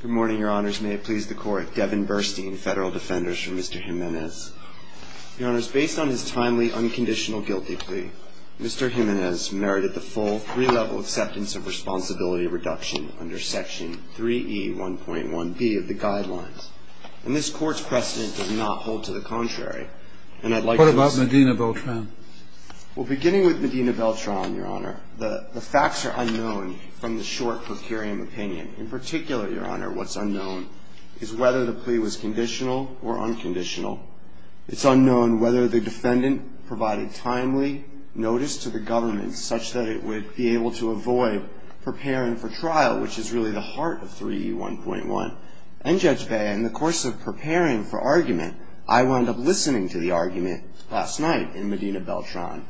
Good morning, your honors. May it please the court, Devin Burstein, Federal Defenders for Mr. Jimenez. Your honors, based on his timely, unconditional guilty plea, Mr. Jimenez merited the full three-level acceptance of responsibility reduction under section 3E1.1b of the guidelines. And this court's precedent does not hold to the contrary, and I'd like to... What about Medina Beltran? Well, beginning with Medina Beltran, your honor, the facts are unknown from the short procurium opinion. In particular, your honor, what's unknown is whether the plea was conditional or unconditional. It's unknown whether the defendant provided timely notice to the government such that it would be able to avoid preparing for trial, which is really the heart of 3E1.1. And, Judge Bey, in the course of preparing for argument, I wound up listening to the argument last night in Medina Beltran,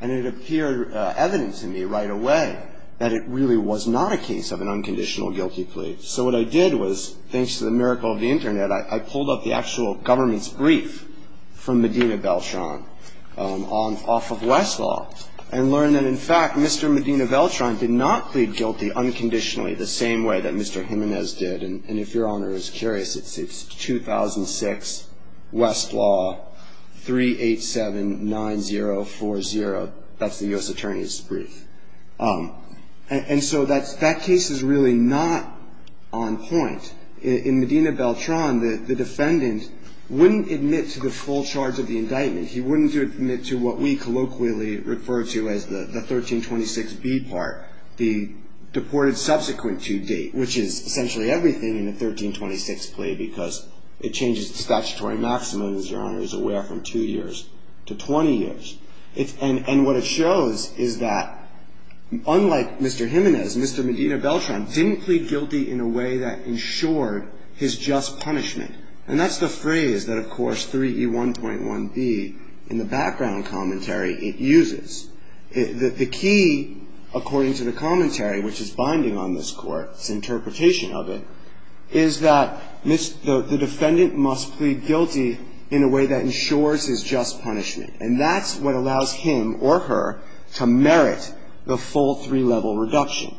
and it appeared evident to me right away that it really was not a case of an unconditional guilty plea. So what I did was, thanks to the miracle of the Internet, I pulled up the actual government's brief from Medina Beltran off of Westlaw and learned that, in fact, Mr. Medina Beltran did not plead guilty unconditionally the same way that Mr. Jimenez did. And if your honor is curious, it's 2006, Westlaw, 3879040. That's the U.S. Attorney's brief. And so that case is really not on point. In Medina Beltran, the defendant wouldn't admit to the full charge of the indictment. He wouldn't admit to what we colloquially refer to as the 1326B part, the deported subsequent to date, which is essentially everything in the 1326 plea because it changes the statutory maximum, as your honor is aware, from 2 years to 20 years. And what it shows is that, unlike Mr. Jimenez, Mr. Medina Beltran didn't plead guilty in a way that ensured his just punishment. And that's the phrase that, of course, 3E1.1B in the background commentary, it uses. The key, according to the commentary, which is binding on this Court's interpretation of it, is that the defendant must plead guilty in a way that ensures his just punishment. And that's what allows him or her to merit the full three-level reduction.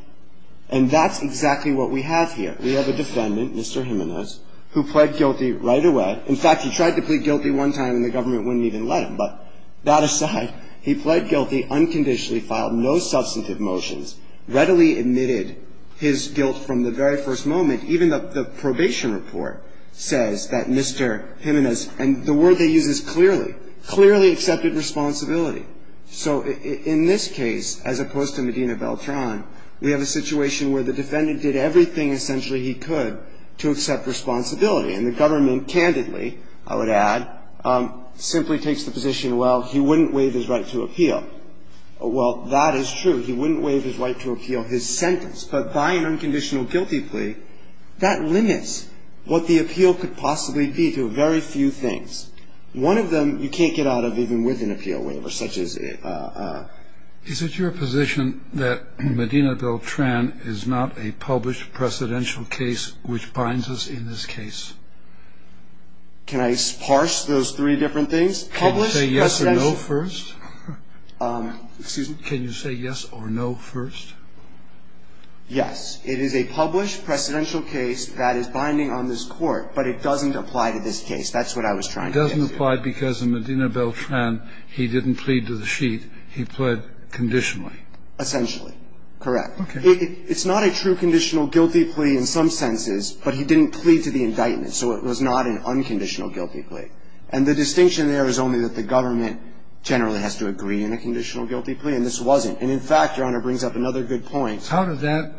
And that's exactly what we have here. We have a defendant, Mr. Jimenez, who pled guilty right away. In fact, he tried to plead guilty one time and the government wouldn't even let him. But that aside, he pled guilty, unconditionally filed no substantive motions, readily admitted his guilt from the very first moment. Even the probation report says that Mr. Jimenez, and the word they use is clearly, clearly accepted responsibility. So in this case, as opposed to Medina Beltran, we have a situation where the defendant did everything essentially he could to accept responsibility. And the government, candidly, I would add, simply takes the position, well, he wouldn't waive his right to appeal. Well, that is true. He wouldn't waive his right to appeal his sentence. But by an unconditional guilty plea, that limits what the appeal could possibly be to very few things. One of them you can't get out of even with an appeal waiver, such as a ---- Can I parse those three different things? Published, precedential. Can you say yes or no first? Excuse me? Can you say yes or no first? Yes. It is a published precedential case that is binding on this Court, but it doesn't apply to this case. That's what I was trying to get to. It doesn't apply because in Medina Beltran, he didn't plead to the sheet. He pled conditionally. Essentially. Correct. Okay. It's not a true conditional guilty plea in some senses, but he didn't plead to the indictment. So it was not an unconditional guilty plea. And the distinction there is only that the government generally has to agree in a conditional guilty plea, and this wasn't. And in fact, Your Honor, brings up another good point. How did that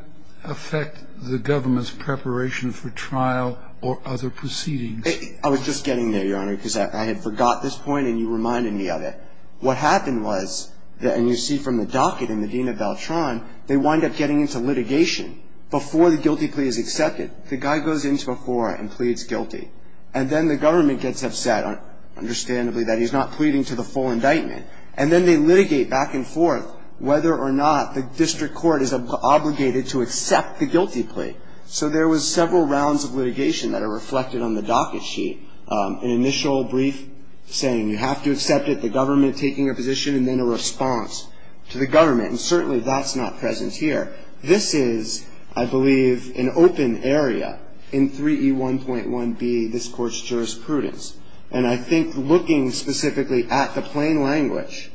affect the government's preparation for trial or other proceedings? I was just getting there, Your Honor, because I had forgot this point and you reminded me of it. What happened was, and you see from the docket in Medina Beltran, they wind up getting into litigation. Before the guilty plea is accepted, the guy goes into a forum and pleads guilty. And then the government gets upset, understandably, that he's not pleading to the full indictment. And then they litigate back and forth whether or not the district court is obligated to accept the guilty plea. So there was several rounds of litigation that are reflected on the docket sheet. There was an initial brief saying you have to accept it, the government taking a position, and then a response to the government. And certainly that's not present here. This is, I believe, an open area in 3E1.1b, this Court's jurisprudence. And I think looking specifically at the plain language,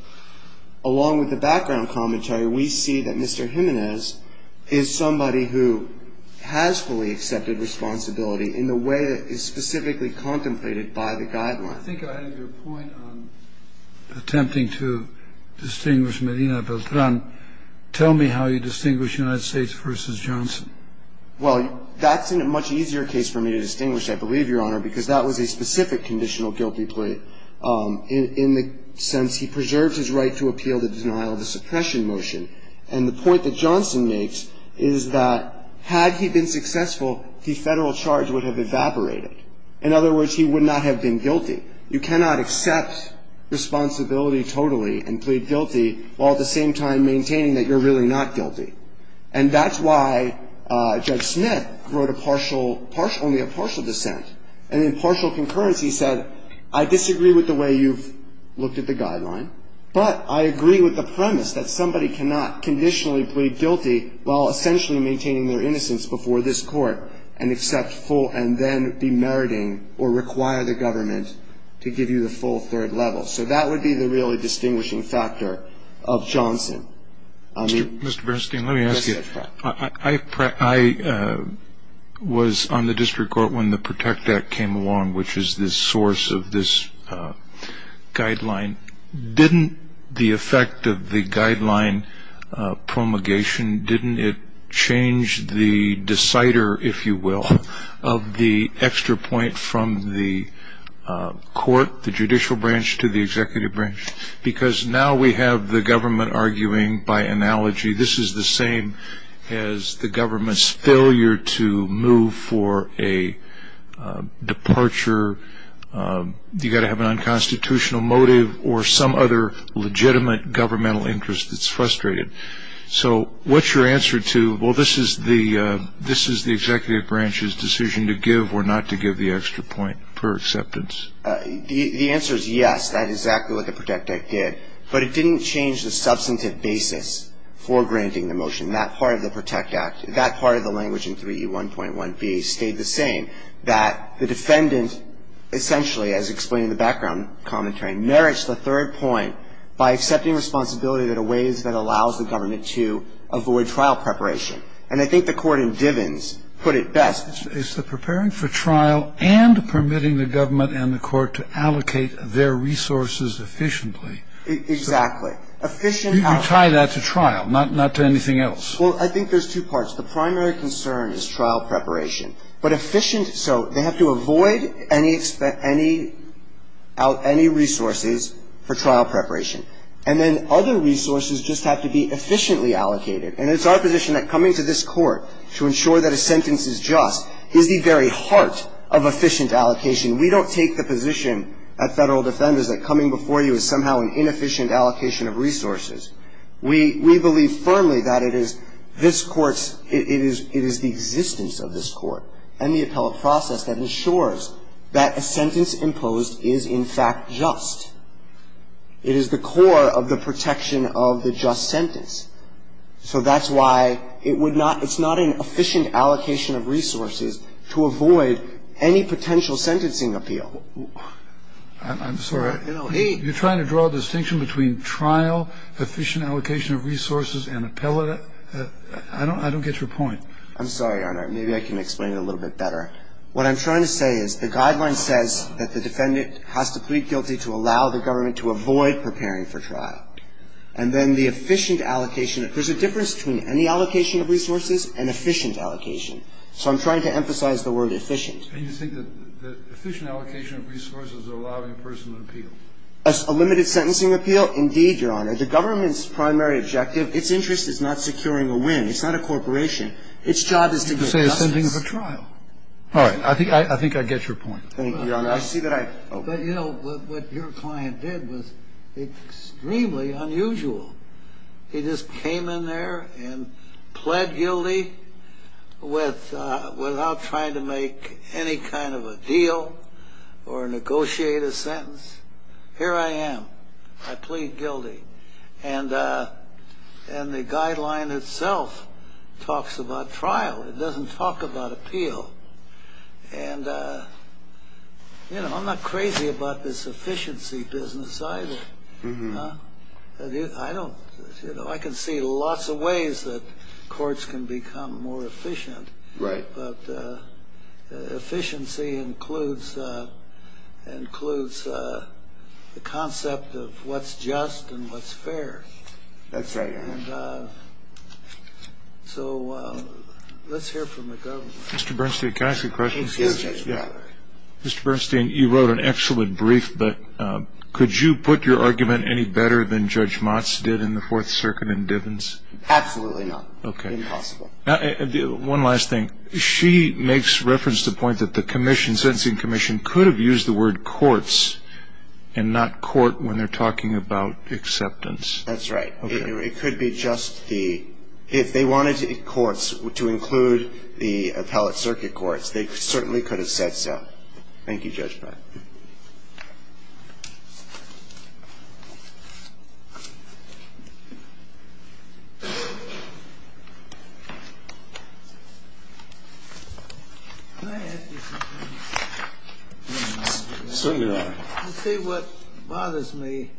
along with the background commentary, we see that Mr. Jimenez is somebody who has fully accepted responsibility in the way that is specifically contemplated by the guidelines. I think I had your point on attempting to distinguish Medina Beltran. Tell me how you distinguish United States v. Johnson. Well, that's a much easier case for me to distinguish, I believe, Your Honor, because that was a specific conditional guilty plea, in the sense he preserved his right to appeal the denial of the suppression motion. And the point that Johnson makes is that had he been successful, the federal charge would have evaporated. In other words, he would not have been guilty. You cannot accept responsibility totally and plead guilty, while at the same time maintaining that you're really not guilty. And that's why Judge Smith wrote only a partial dissent. And in partial concurrence, he said, I disagree with the way you've looked at the guideline, but I agree with the premise that somebody cannot conditionally plead guilty while essentially maintaining their innocence before this Court and accept full and then be meriting or require the government to give you the full third level. So that would be the really distinguishing factor of Johnson. Mr. Bernstein, let me ask you. I was on the district court when the Protect Act came along, which is the source of this guideline. Didn't the effect of the guideline promulgation, didn't it change the decider, if you will, of the extra point from the court, the judicial branch, to the executive branch? Because now we have the government arguing by analogy, this is the same as the government's failure to move for a departure, you've got to have an unconstitutional motive or some other legitimate governmental interest that's frustrated. So what's your answer to, well, this is the executive branch's decision to give or not to give the extra point per acceptance? The answer is yes. That's exactly what the Protect Act did. But it didn't change the substantive basis for granting the motion. That part of the Protect Act, that part of the language in 3E1.1b stayed the same, that the defendant essentially, as explained in the background commentary, merits the third point by accepting responsibility in a way that allows the government to avoid trial preparation. And I think the Court in Divens put it best. It's the preparing for trial and permitting the government and the Court to allocate their resources efficiently. Exactly. You tie that to trial, not to anything else. Well, I think there's two parts. The primary concern is trial preparation. But efficient so they have to avoid any resources for trial preparation. And then other resources just have to be efficiently allocated. And it's our position that coming to this Court to ensure that a sentence is just is the very heart of efficient allocation. We don't take the position at Federal Defenders that coming before you is somehow an inefficient allocation of resources. We believe firmly that it is this Court's, it is the existence of this Court and the appellate process that ensures that a sentence imposed is in fact just. It is the core of the protection of the just sentence. So that's why it would not, it's not an efficient allocation of resources to avoid any potential sentencing appeal. I'm sorry. You're trying to draw a distinction between trial, efficient allocation of resources and appellate. I don't get your point. I'm sorry, Your Honor. Maybe I can explain it a little bit better. What I'm trying to say is the guideline says that the defendant has to plead guilty to allow the government to avoid preparing for trial. And then the efficient allocation, there's a difference between any allocation of resources and efficient allocation. So I'm trying to emphasize the word efficient. And you think that the efficient allocation of resources are allowing personal appeal? A limited sentencing appeal? Indeed, Your Honor. The government's primary objective, its interest is not securing a win. It's not a corporation. Its job is to get justice. You say it's sending for trial. All right. I think I get your point. Thank you, Your Honor. But, you know, what your client did was extremely unusual. He just came in there and pled guilty without trying to make any kind of a deal or negotiate a sentence. Here I am. I plead guilty. And the guideline itself talks about trial. It doesn't talk about appeal. And, you know, I'm not crazy about this efficiency business either. I can see lots of ways that courts can become more efficient. Right. But efficiency includes the concept of what's just and what's fair. That's right, Your Honor. So let's hear from the government. Mr. Bernstein, can I ask you a question? Yes, Judge. Mr. Bernstein, you wrote an excellent brief, but could you put your argument any better than Judge Motz did in the Fourth Circuit in Divens? Absolutely not. Okay. Impossible. One last thing. She makes reference to the point that the commission, sentencing commission could have used the word courts and not court when they're talking about acceptance. That's right. It could be just the ‑‑ if they wanted courts to include the appellate circuit courts, they certainly could have said so. Thank you, Judge Breyer. Can I ask you something? Certainly, Your Honor. You see, what bothers me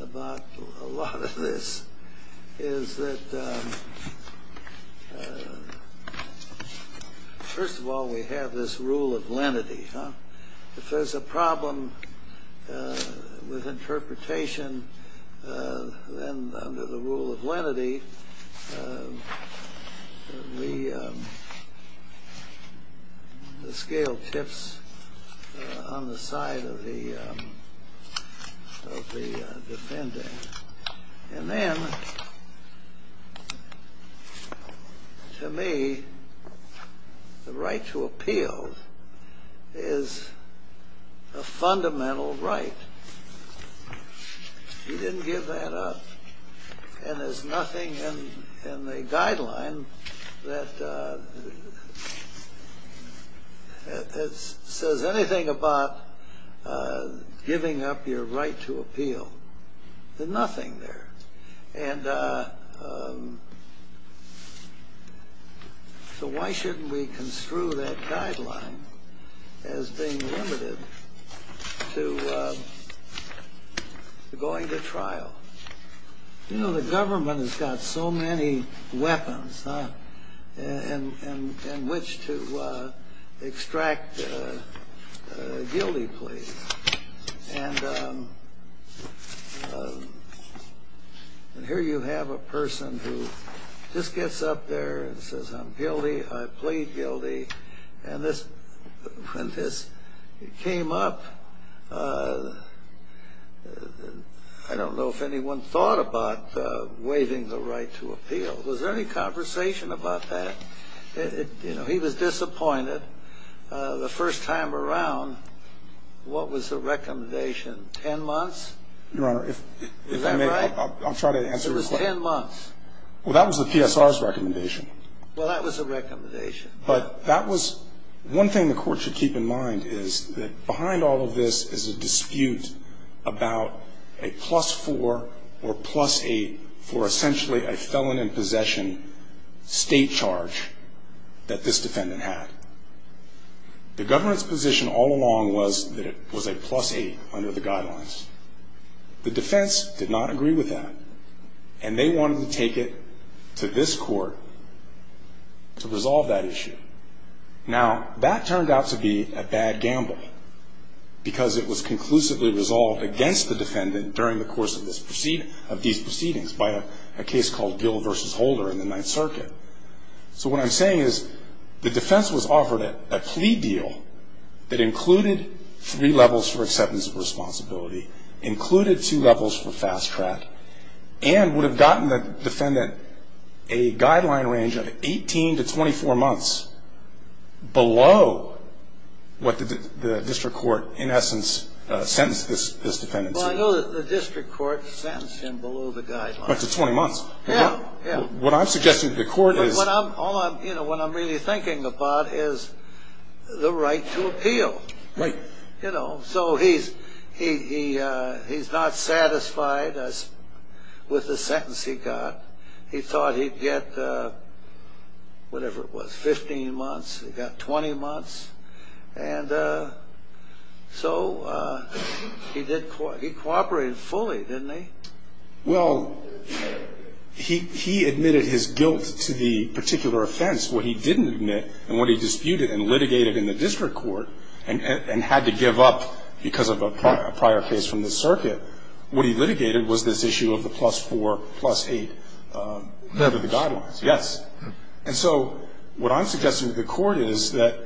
about a lot of this is that, first of all, we have this rule of lenity. If there's a problem with interpretation, then under the rule of lenity, the scale tips on the side of the defendant. And then, to me, the right to appeal is a fundamental right. You didn't give that up. And there's nothing in the guideline that says anything about giving up your right to appeal. Nothing there. And so why shouldn't we construe that guideline as being limited to going to trial? You know, the government has got so many weapons in which to extract guilty pleas. And here you have a person who just gets up there and says, I'm guilty, I plead guilty. And when this came up, I don't know if anyone thought about waiving the right to appeal. Was there any conversation about that? You know, he was disappointed. The first time around, what was the recommendation? Ten months? Your Honor, if I may, I'll try to answer your question. It was ten months. Well, that was the PSR's recommendation. Well, that was the recommendation. But that was one thing the Court should keep in mind is that behind all of this is a dispute about a plus four or plus eight for essentially a felon in possession state charge that this defendant had. The government's position all along was that it was a plus eight under the guidelines. The defense did not agree with that, and they wanted to take it to this Court to resolve that issue. Now, that turned out to be a bad gamble because it was conclusively resolved against the defendant during the course of these proceedings by a case called Gill v. Holder in the Ninth Circuit. So what I'm saying is the defense was offered a plea deal that included three levels for acceptance of responsibility, included two levels for fast track, and would have gotten the defendant a guideline range of 18 to 24 months below what the district court, in essence, sentenced this defendant to. Well, I know that the district court sentenced him below the guidelines. Right to 20 months. Yeah. What I'm suggesting to the Court is... All I'm really thinking about is the right to appeal. Right. So he's not satisfied with the sentence he got. He thought he'd get whatever it was, 15 months. He got 20 months. And so he cooperated fully, didn't he? Well, he admitted his guilt to the particular offense. What he didn't admit, and what he disputed and litigated in the district court, and had to give up because of a prior case from the circuit, what he litigated was this issue of the plus-4, plus-8 level of the guidelines. Yes. And so what I'm suggesting to the Court is that,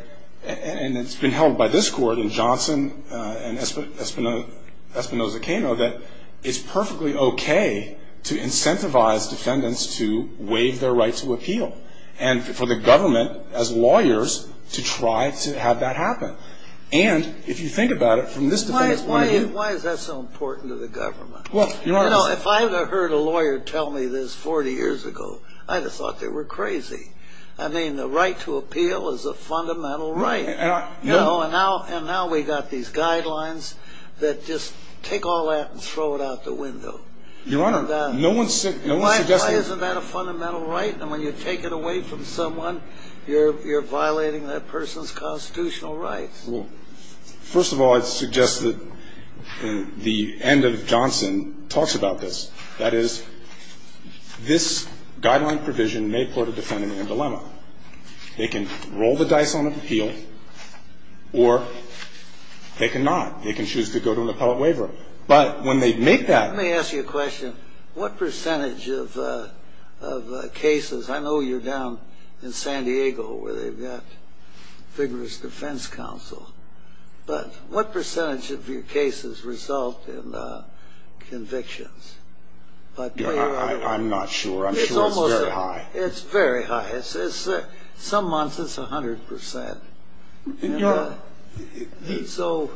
and it's been held by this Court and Johnson and Espinoza-Cano, that it's perfectly okay to incentivize defendants to waive their right to appeal, and for the government, as lawyers, to try to have that happen. And, if you think about it, from this defendant's point of view... Why is that so important to the government? Well, Your Honor... You know, if I had heard a lawyer tell me this 40 years ago, I'd have thought they were crazy. I mean, the right to appeal is a fundamental right. And now we've got these guidelines that just take all that and throw it out the window. Your Honor, no one suggested... Why isn't that a fundamental right? And when you take it away from someone, you're violating that person's constitutional rights. Well, first of all, I'd suggest that the end of Johnson talks about this. That is, this guideline provision may put a defendant in a dilemma. They can roll the dice on appeal, or they cannot. They can choose to go to an appellate waiver. But when they make that... Let me ask you a question. What percentage of cases... I know you're down in San Diego, where they've got vigorous defense counsel. But what percentage of your cases result in convictions? I'm not sure. I'm sure it's very high. It's very high. Some months, it's 100%. So,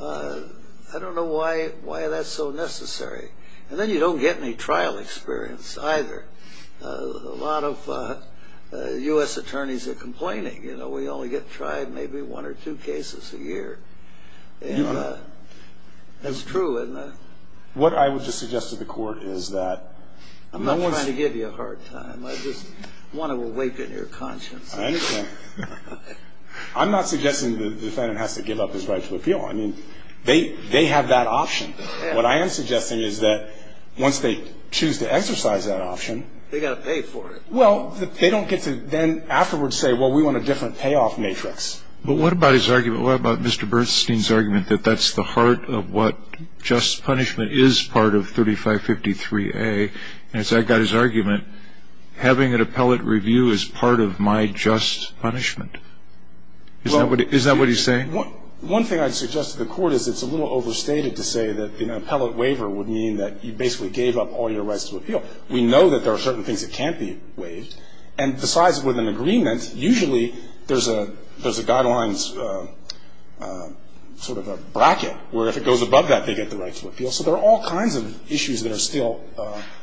I don't know why that's so necessary. And then you don't get any trial experience either. A lot of U.S. attorneys are complaining. You know, we only get tried maybe one or two cases a year. And that's true. What I would just suggest to the court is that... I'm not trying to give you a hard time. I just want to awaken your conscience. I understand. I'm not suggesting the defendant has to give up his right to appeal. I mean, they have that option. What I am suggesting is that once they choose to exercise that option... They've got to pay for it. Well, they don't get to then afterwards say, well, we want a different payoff matrix. But what about his argument? What about Mr. Bernstein's argument that that's the heart of what just punishment is part of 3553A? And it's that guy's argument, having an appellate review is part of my just punishment. Is that what he's saying? One thing I'd suggest to the court is it's a little overstated to say that an appellate waiver would mean that you basically gave up all your rights to appeal. We know that there are certain things that can't be waived. And besides with an agreement, usually there's a guidelines sort of a bracket, where if it goes above that, they get the right to appeal. So there are all kinds of issues that are still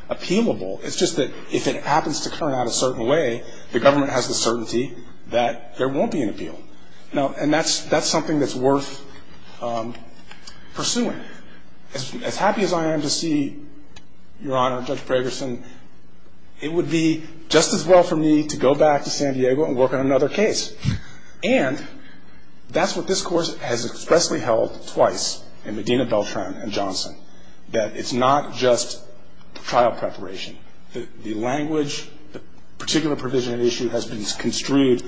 appealable. It's just that if it happens to turn out a certain way, the government has the certainty that there won't be an appeal. And that's something that's worth pursuing. As happy as I am to see, Your Honor, Judge Bragerson, it would be just as well for me to go back to San Diego and work on another case. And that's what this Court has expressly held twice in Medina, Beltran and Johnson, that it's not just trial preparation. The language, the particular provision of the issue has been construed,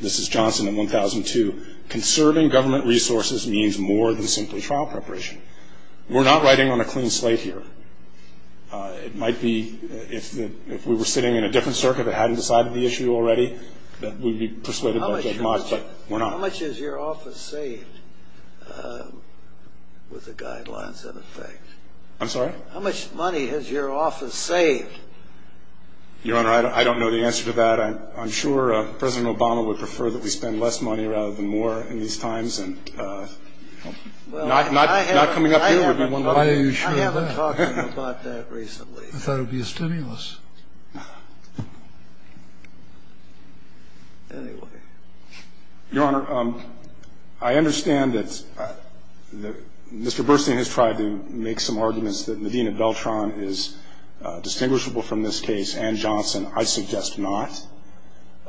this is Johnson in 1002, conserving government resources means more than simply trial preparation. We're not writing on a clean slate here. It might be if we were sitting in a different circuit that hadn't decided the issue already, that we'd be persuaded by Judge Mott, but we're not. How much has your office saved with the guidelines in effect? I'm sorry? How much money has your office saved? Your Honor, I don't know the answer to that. I'm sure President Obama would prefer that we spend less money rather than more in these times. Not coming up here would be one way. I haven't talked to him about that recently. I thought it would be a stimulus. Anyway. Your Honor, I understand that Mr. Burstein has tried to make some arguments that Medina Beltran is distinguishable from this case and Johnson. I suggest not.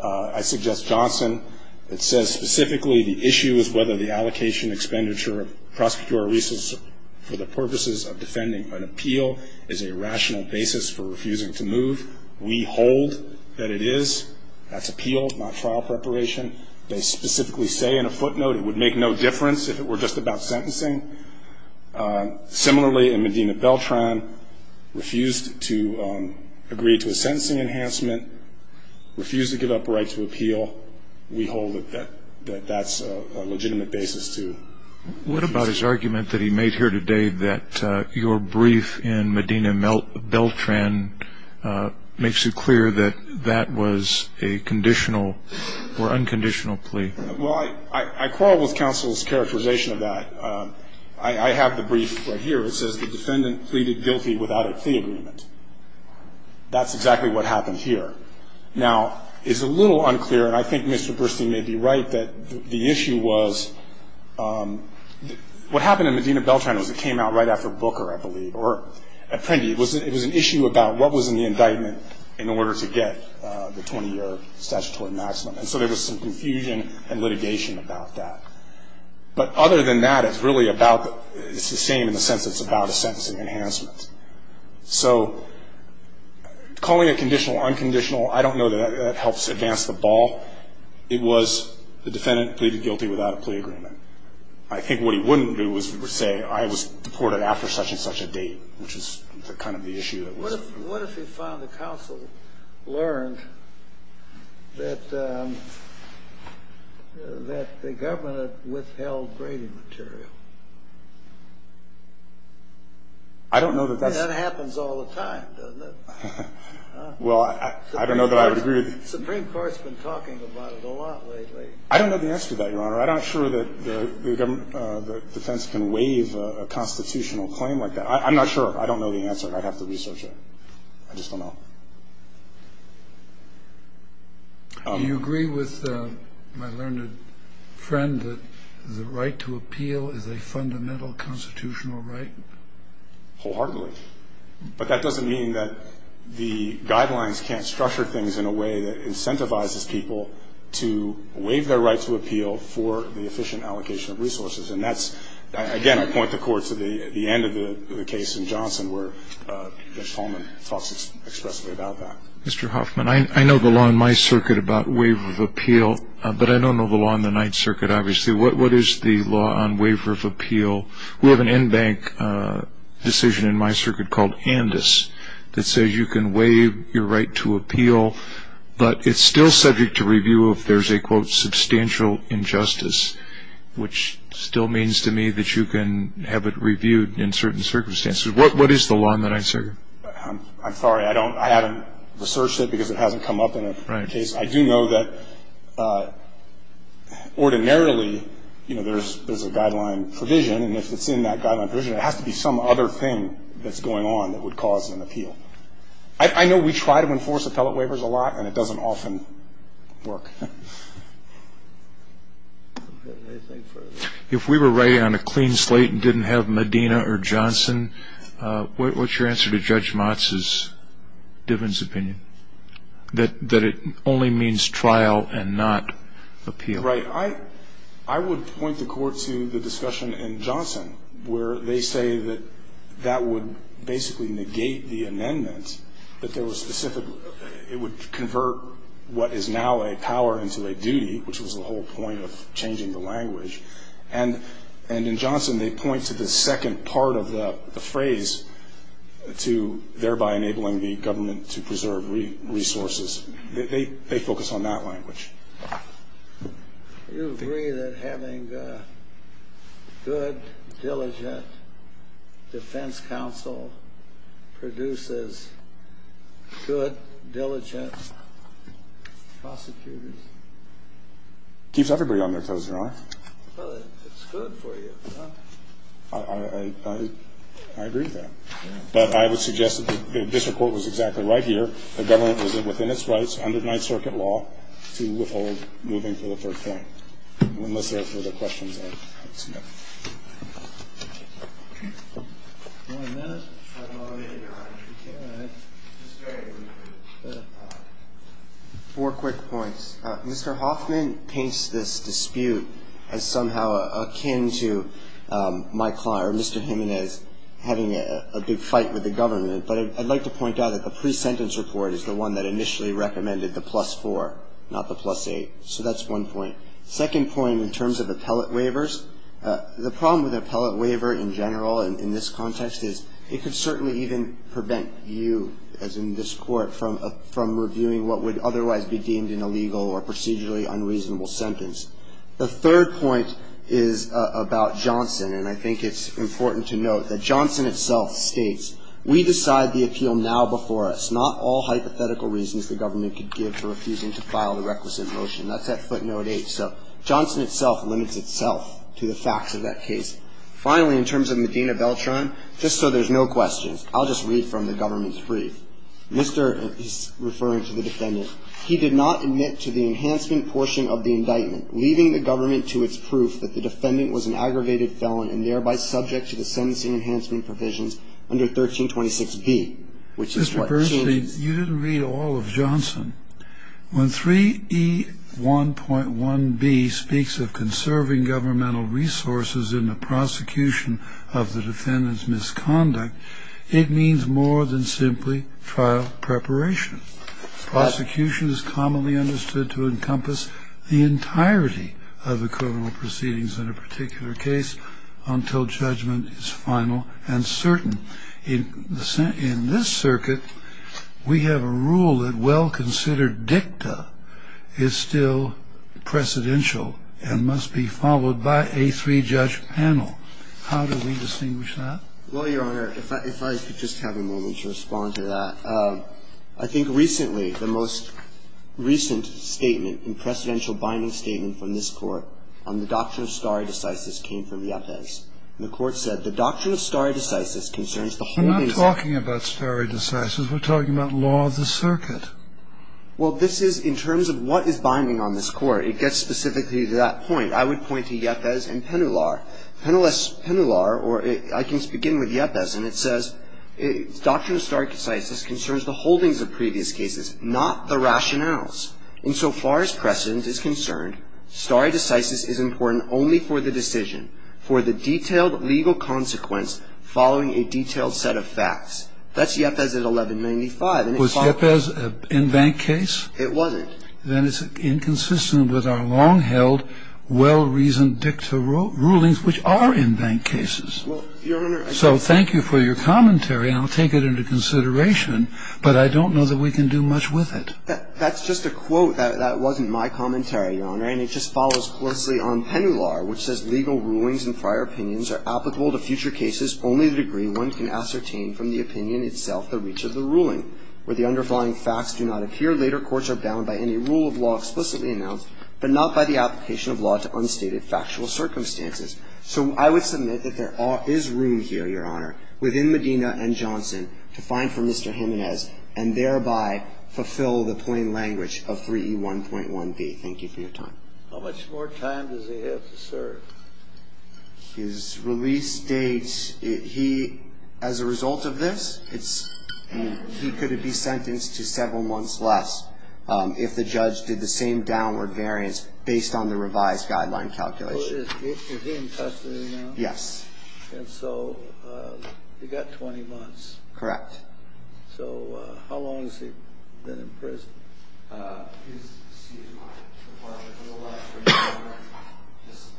I suggest Johnson. It says specifically the issue is whether the allocation, expenditure, prosecutor resources for the purposes of defending an appeal is a rational basis for refusing to move. We hold that it is. That's appeal, not trial preparation. They specifically say in a footnote it would make no difference if it were just about sentencing. Similarly, in Medina Beltran, refused to agree to a sentencing enhancement, refused to give up a right to appeal. We hold that that's a legitimate basis to refuse. What about his argument that he made here today that your brief in Medina Beltran makes it clear that that was a conditional or unconditional plea? Well, I quarrel with counsel's characterization of that. I have the brief right here. It says the defendant pleaded guilty without a plea agreement. That's exactly what happened here. Now, it's a little unclear, and I think Mr. Burstein may be right, that the issue was what happened in Medina Beltran was it came out right after Booker, I believe, or Apprendi. It was an issue about what was in the indictment in order to get the 20-year statutory maximum. And so there was some confusion and litigation about that. But other than that, it's really about the – it's the same in the sense it's about a sentencing enhancement. So calling it conditional or unconditional, I don't know that that helps advance the ball. It was the defendant pleaded guilty without a plea agreement. I think what he wouldn't do is say I was deported after such and such a date, which is kind of the issue. What if he found the counsel learned that the government withheld grading material? I don't know that that's – That happens all the time, doesn't it? Well, I don't know that I would agree with – The Supreme Court's been talking about it a lot lately. I don't know the answer to that, Your Honor. I'm not sure that the defense can waive a constitutional claim like that. I'm not sure. I don't know the answer. I'd have to research it. I just don't know. Do you agree with my learned friend that the right to appeal is a fundamental constitutional right? Wholeheartedly. But that doesn't mean that the guidelines can't structure things in a way that incentivizes people to waive their right to appeal for the efficient allocation of resources. And that's – Again, I point the court to the end of the case in Johnson where Mitch Holman talks expressly about that. Mr. Hoffman, I know the law in my circuit about waiver of appeal, but I don't know the law in the Ninth Circuit, obviously. What is the law on waiver of appeal? We have an in-bank decision in my circuit called Andis that says you can waive your right to appeal, but it's still subject to review if there's a, quote, substantial injustice, which still means to me that you can have it reviewed in certain circumstances. What is the law in the Ninth Circuit? I'm sorry. I don't – I haven't researched it because it hasn't come up in a case. I do know that ordinarily, you know, there's a guideline provision, and if it's in that guideline provision, it has to be some other thing that's going on that would cause an appeal. I know we try to enforce appellate waivers a lot, and it doesn't often work. If we were writing on a clean slate and didn't have Medina or Johnson, what's your answer to Judge Motz's, Diven's opinion, that it only means trial and not appeal? Right. I would point the court to the discussion in Johnson where they say that that would basically negate the amendment, that there was specific – it would convert what is now a power into a duty, which was the whole point of changing the language. And in Johnson, they point to the second part of the phrase, to thereby enabling the government to preserve resources. They focus on that language. Do you agree that having good, diligent defense counsel produces good, diligent prosecutors? It keeps everybody on their toes, Your Honor. Well, it's good for you. I agree with that. But I would suggest that the district court was exactly right here. The government was within its rights under Ninth Circuit law to withhold moving to the third point. Unless there were other questions. Four quick points. Mr. Hoffman paints this dispute as somehow akin to my client, Mr. Jimenez, having a big fight with the government. But I'd like to point out that the pre-sentence report is the one that initially recommended the plus four, not the plus eight. So that's one point. Second point in terms of appellate waivers, the problem with an appellate waiver in general in this context is it could certainly even prevent you, as in this court, from reviewing what would otherwise be deemed an illegal or procedurally unreasonable sentence. The third point is about Johnson, and I think it's important to note that Johnson itself states, we decide the appeal now before us, not all hypothetical reasons the government could give for refusing to file the requisite motion. That's at footnote eight. So Johnson itself limits itself to the facts of that case. Finally, in terms of Medina Beltran, just so there's no questions, I'll just read from the government's brief. Mr. is referring to the defendant. He did not admit to the enhancement portion of the indictment, leaving the government to its proof that the defendant was an aggravated felon and thereby subject to the sentencing enhancement provisions under 1326B, which is what she is. Mr. Bernstein, you didn't read all of Johnson. When 3E1.1B speaks of conserving governmental resources in the prosecution of the defendant's misconduct, it means more than simply trial preparation. Prosecution is commonly understood to encompass the entirety of the criminal proceedings in a particular case until judgment is final and certain. In this circuit, we have a rule that well-considered dicta is still precedential and must be followed by a three-judge panel. How do we distinguish that? Well, Your Honor, if I could just have a moment to respond to that. I think recently, the most recent statement and precedential binding statement from this Court on the doctrine of stare decisis came from Yepez. The Court said, the doctrine of stare decisis concerns the whole incident. We're not talking about stare decisis. We're talking about law of the circuit. Well, this is in terms of what is binding on this Court. It gets specifically to that point. I would point to Yepez and Penular. Penular, or I can begin with Yepez, and it says, doctrine of stare decisis concerns the holdings of previous cases, not the rationales. Insofar as precedent is concerned, stare decisis is important only for the decision, for the detailed legal consequence following a detailed set of facts. That's Yepez at 1195. Was Yepez an in-bank case? It wasn't. Then it's inconsistent with our long-held, well-reasoned dicta rulings, which are in-bank cases. So thank you for your commentary, and I'll take it into consideration, but I don't know that we can do much with it. That's just a quote. That wasn't my commentary, Your Honor. And it just follows closely on Penular, which says, legal rulings and prior opinions are applicable to future cases only to the degree one can ascertain from the opinion itself the reach of the ruling. Where the underlying facts do not appear, later courts are bound by any rule of law explicitly announced, but not by the application of law to unstated factual circumstances. So I would submit that there is room here, Your Honor, within Medina and Johnson to find for Mr. Jimenez and thereby fulfill the plain language of 3E1.1b. Thank you for your time. How much more time does he have to serve? His release date, he, as a result of this, it's he could be sentenced to several months less if the judge did the same downward variance based on the revised guideline calculation. Is he in custody now? Yes. And so you've got 20 months. Correct. So how long has he been in prison? I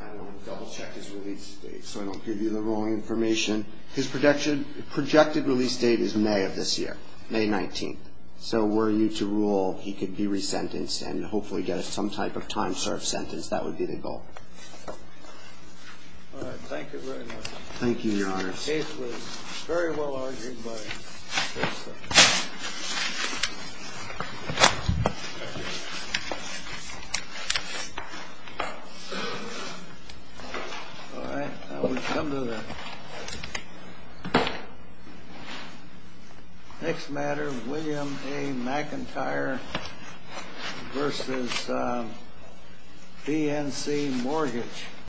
don't want to double check his release date so I don't give you the wrong information. His projected release date is May of this year, May 19th. So were you to rule he could be resentenced and hopefully get some type of time-served sentence, that would be the goal. All right. Thank you very much. Thank you, Your Honor. The case was very well-argued. All right. Now we come to the next matter, William A. McIntyre versus BNC Mortgage.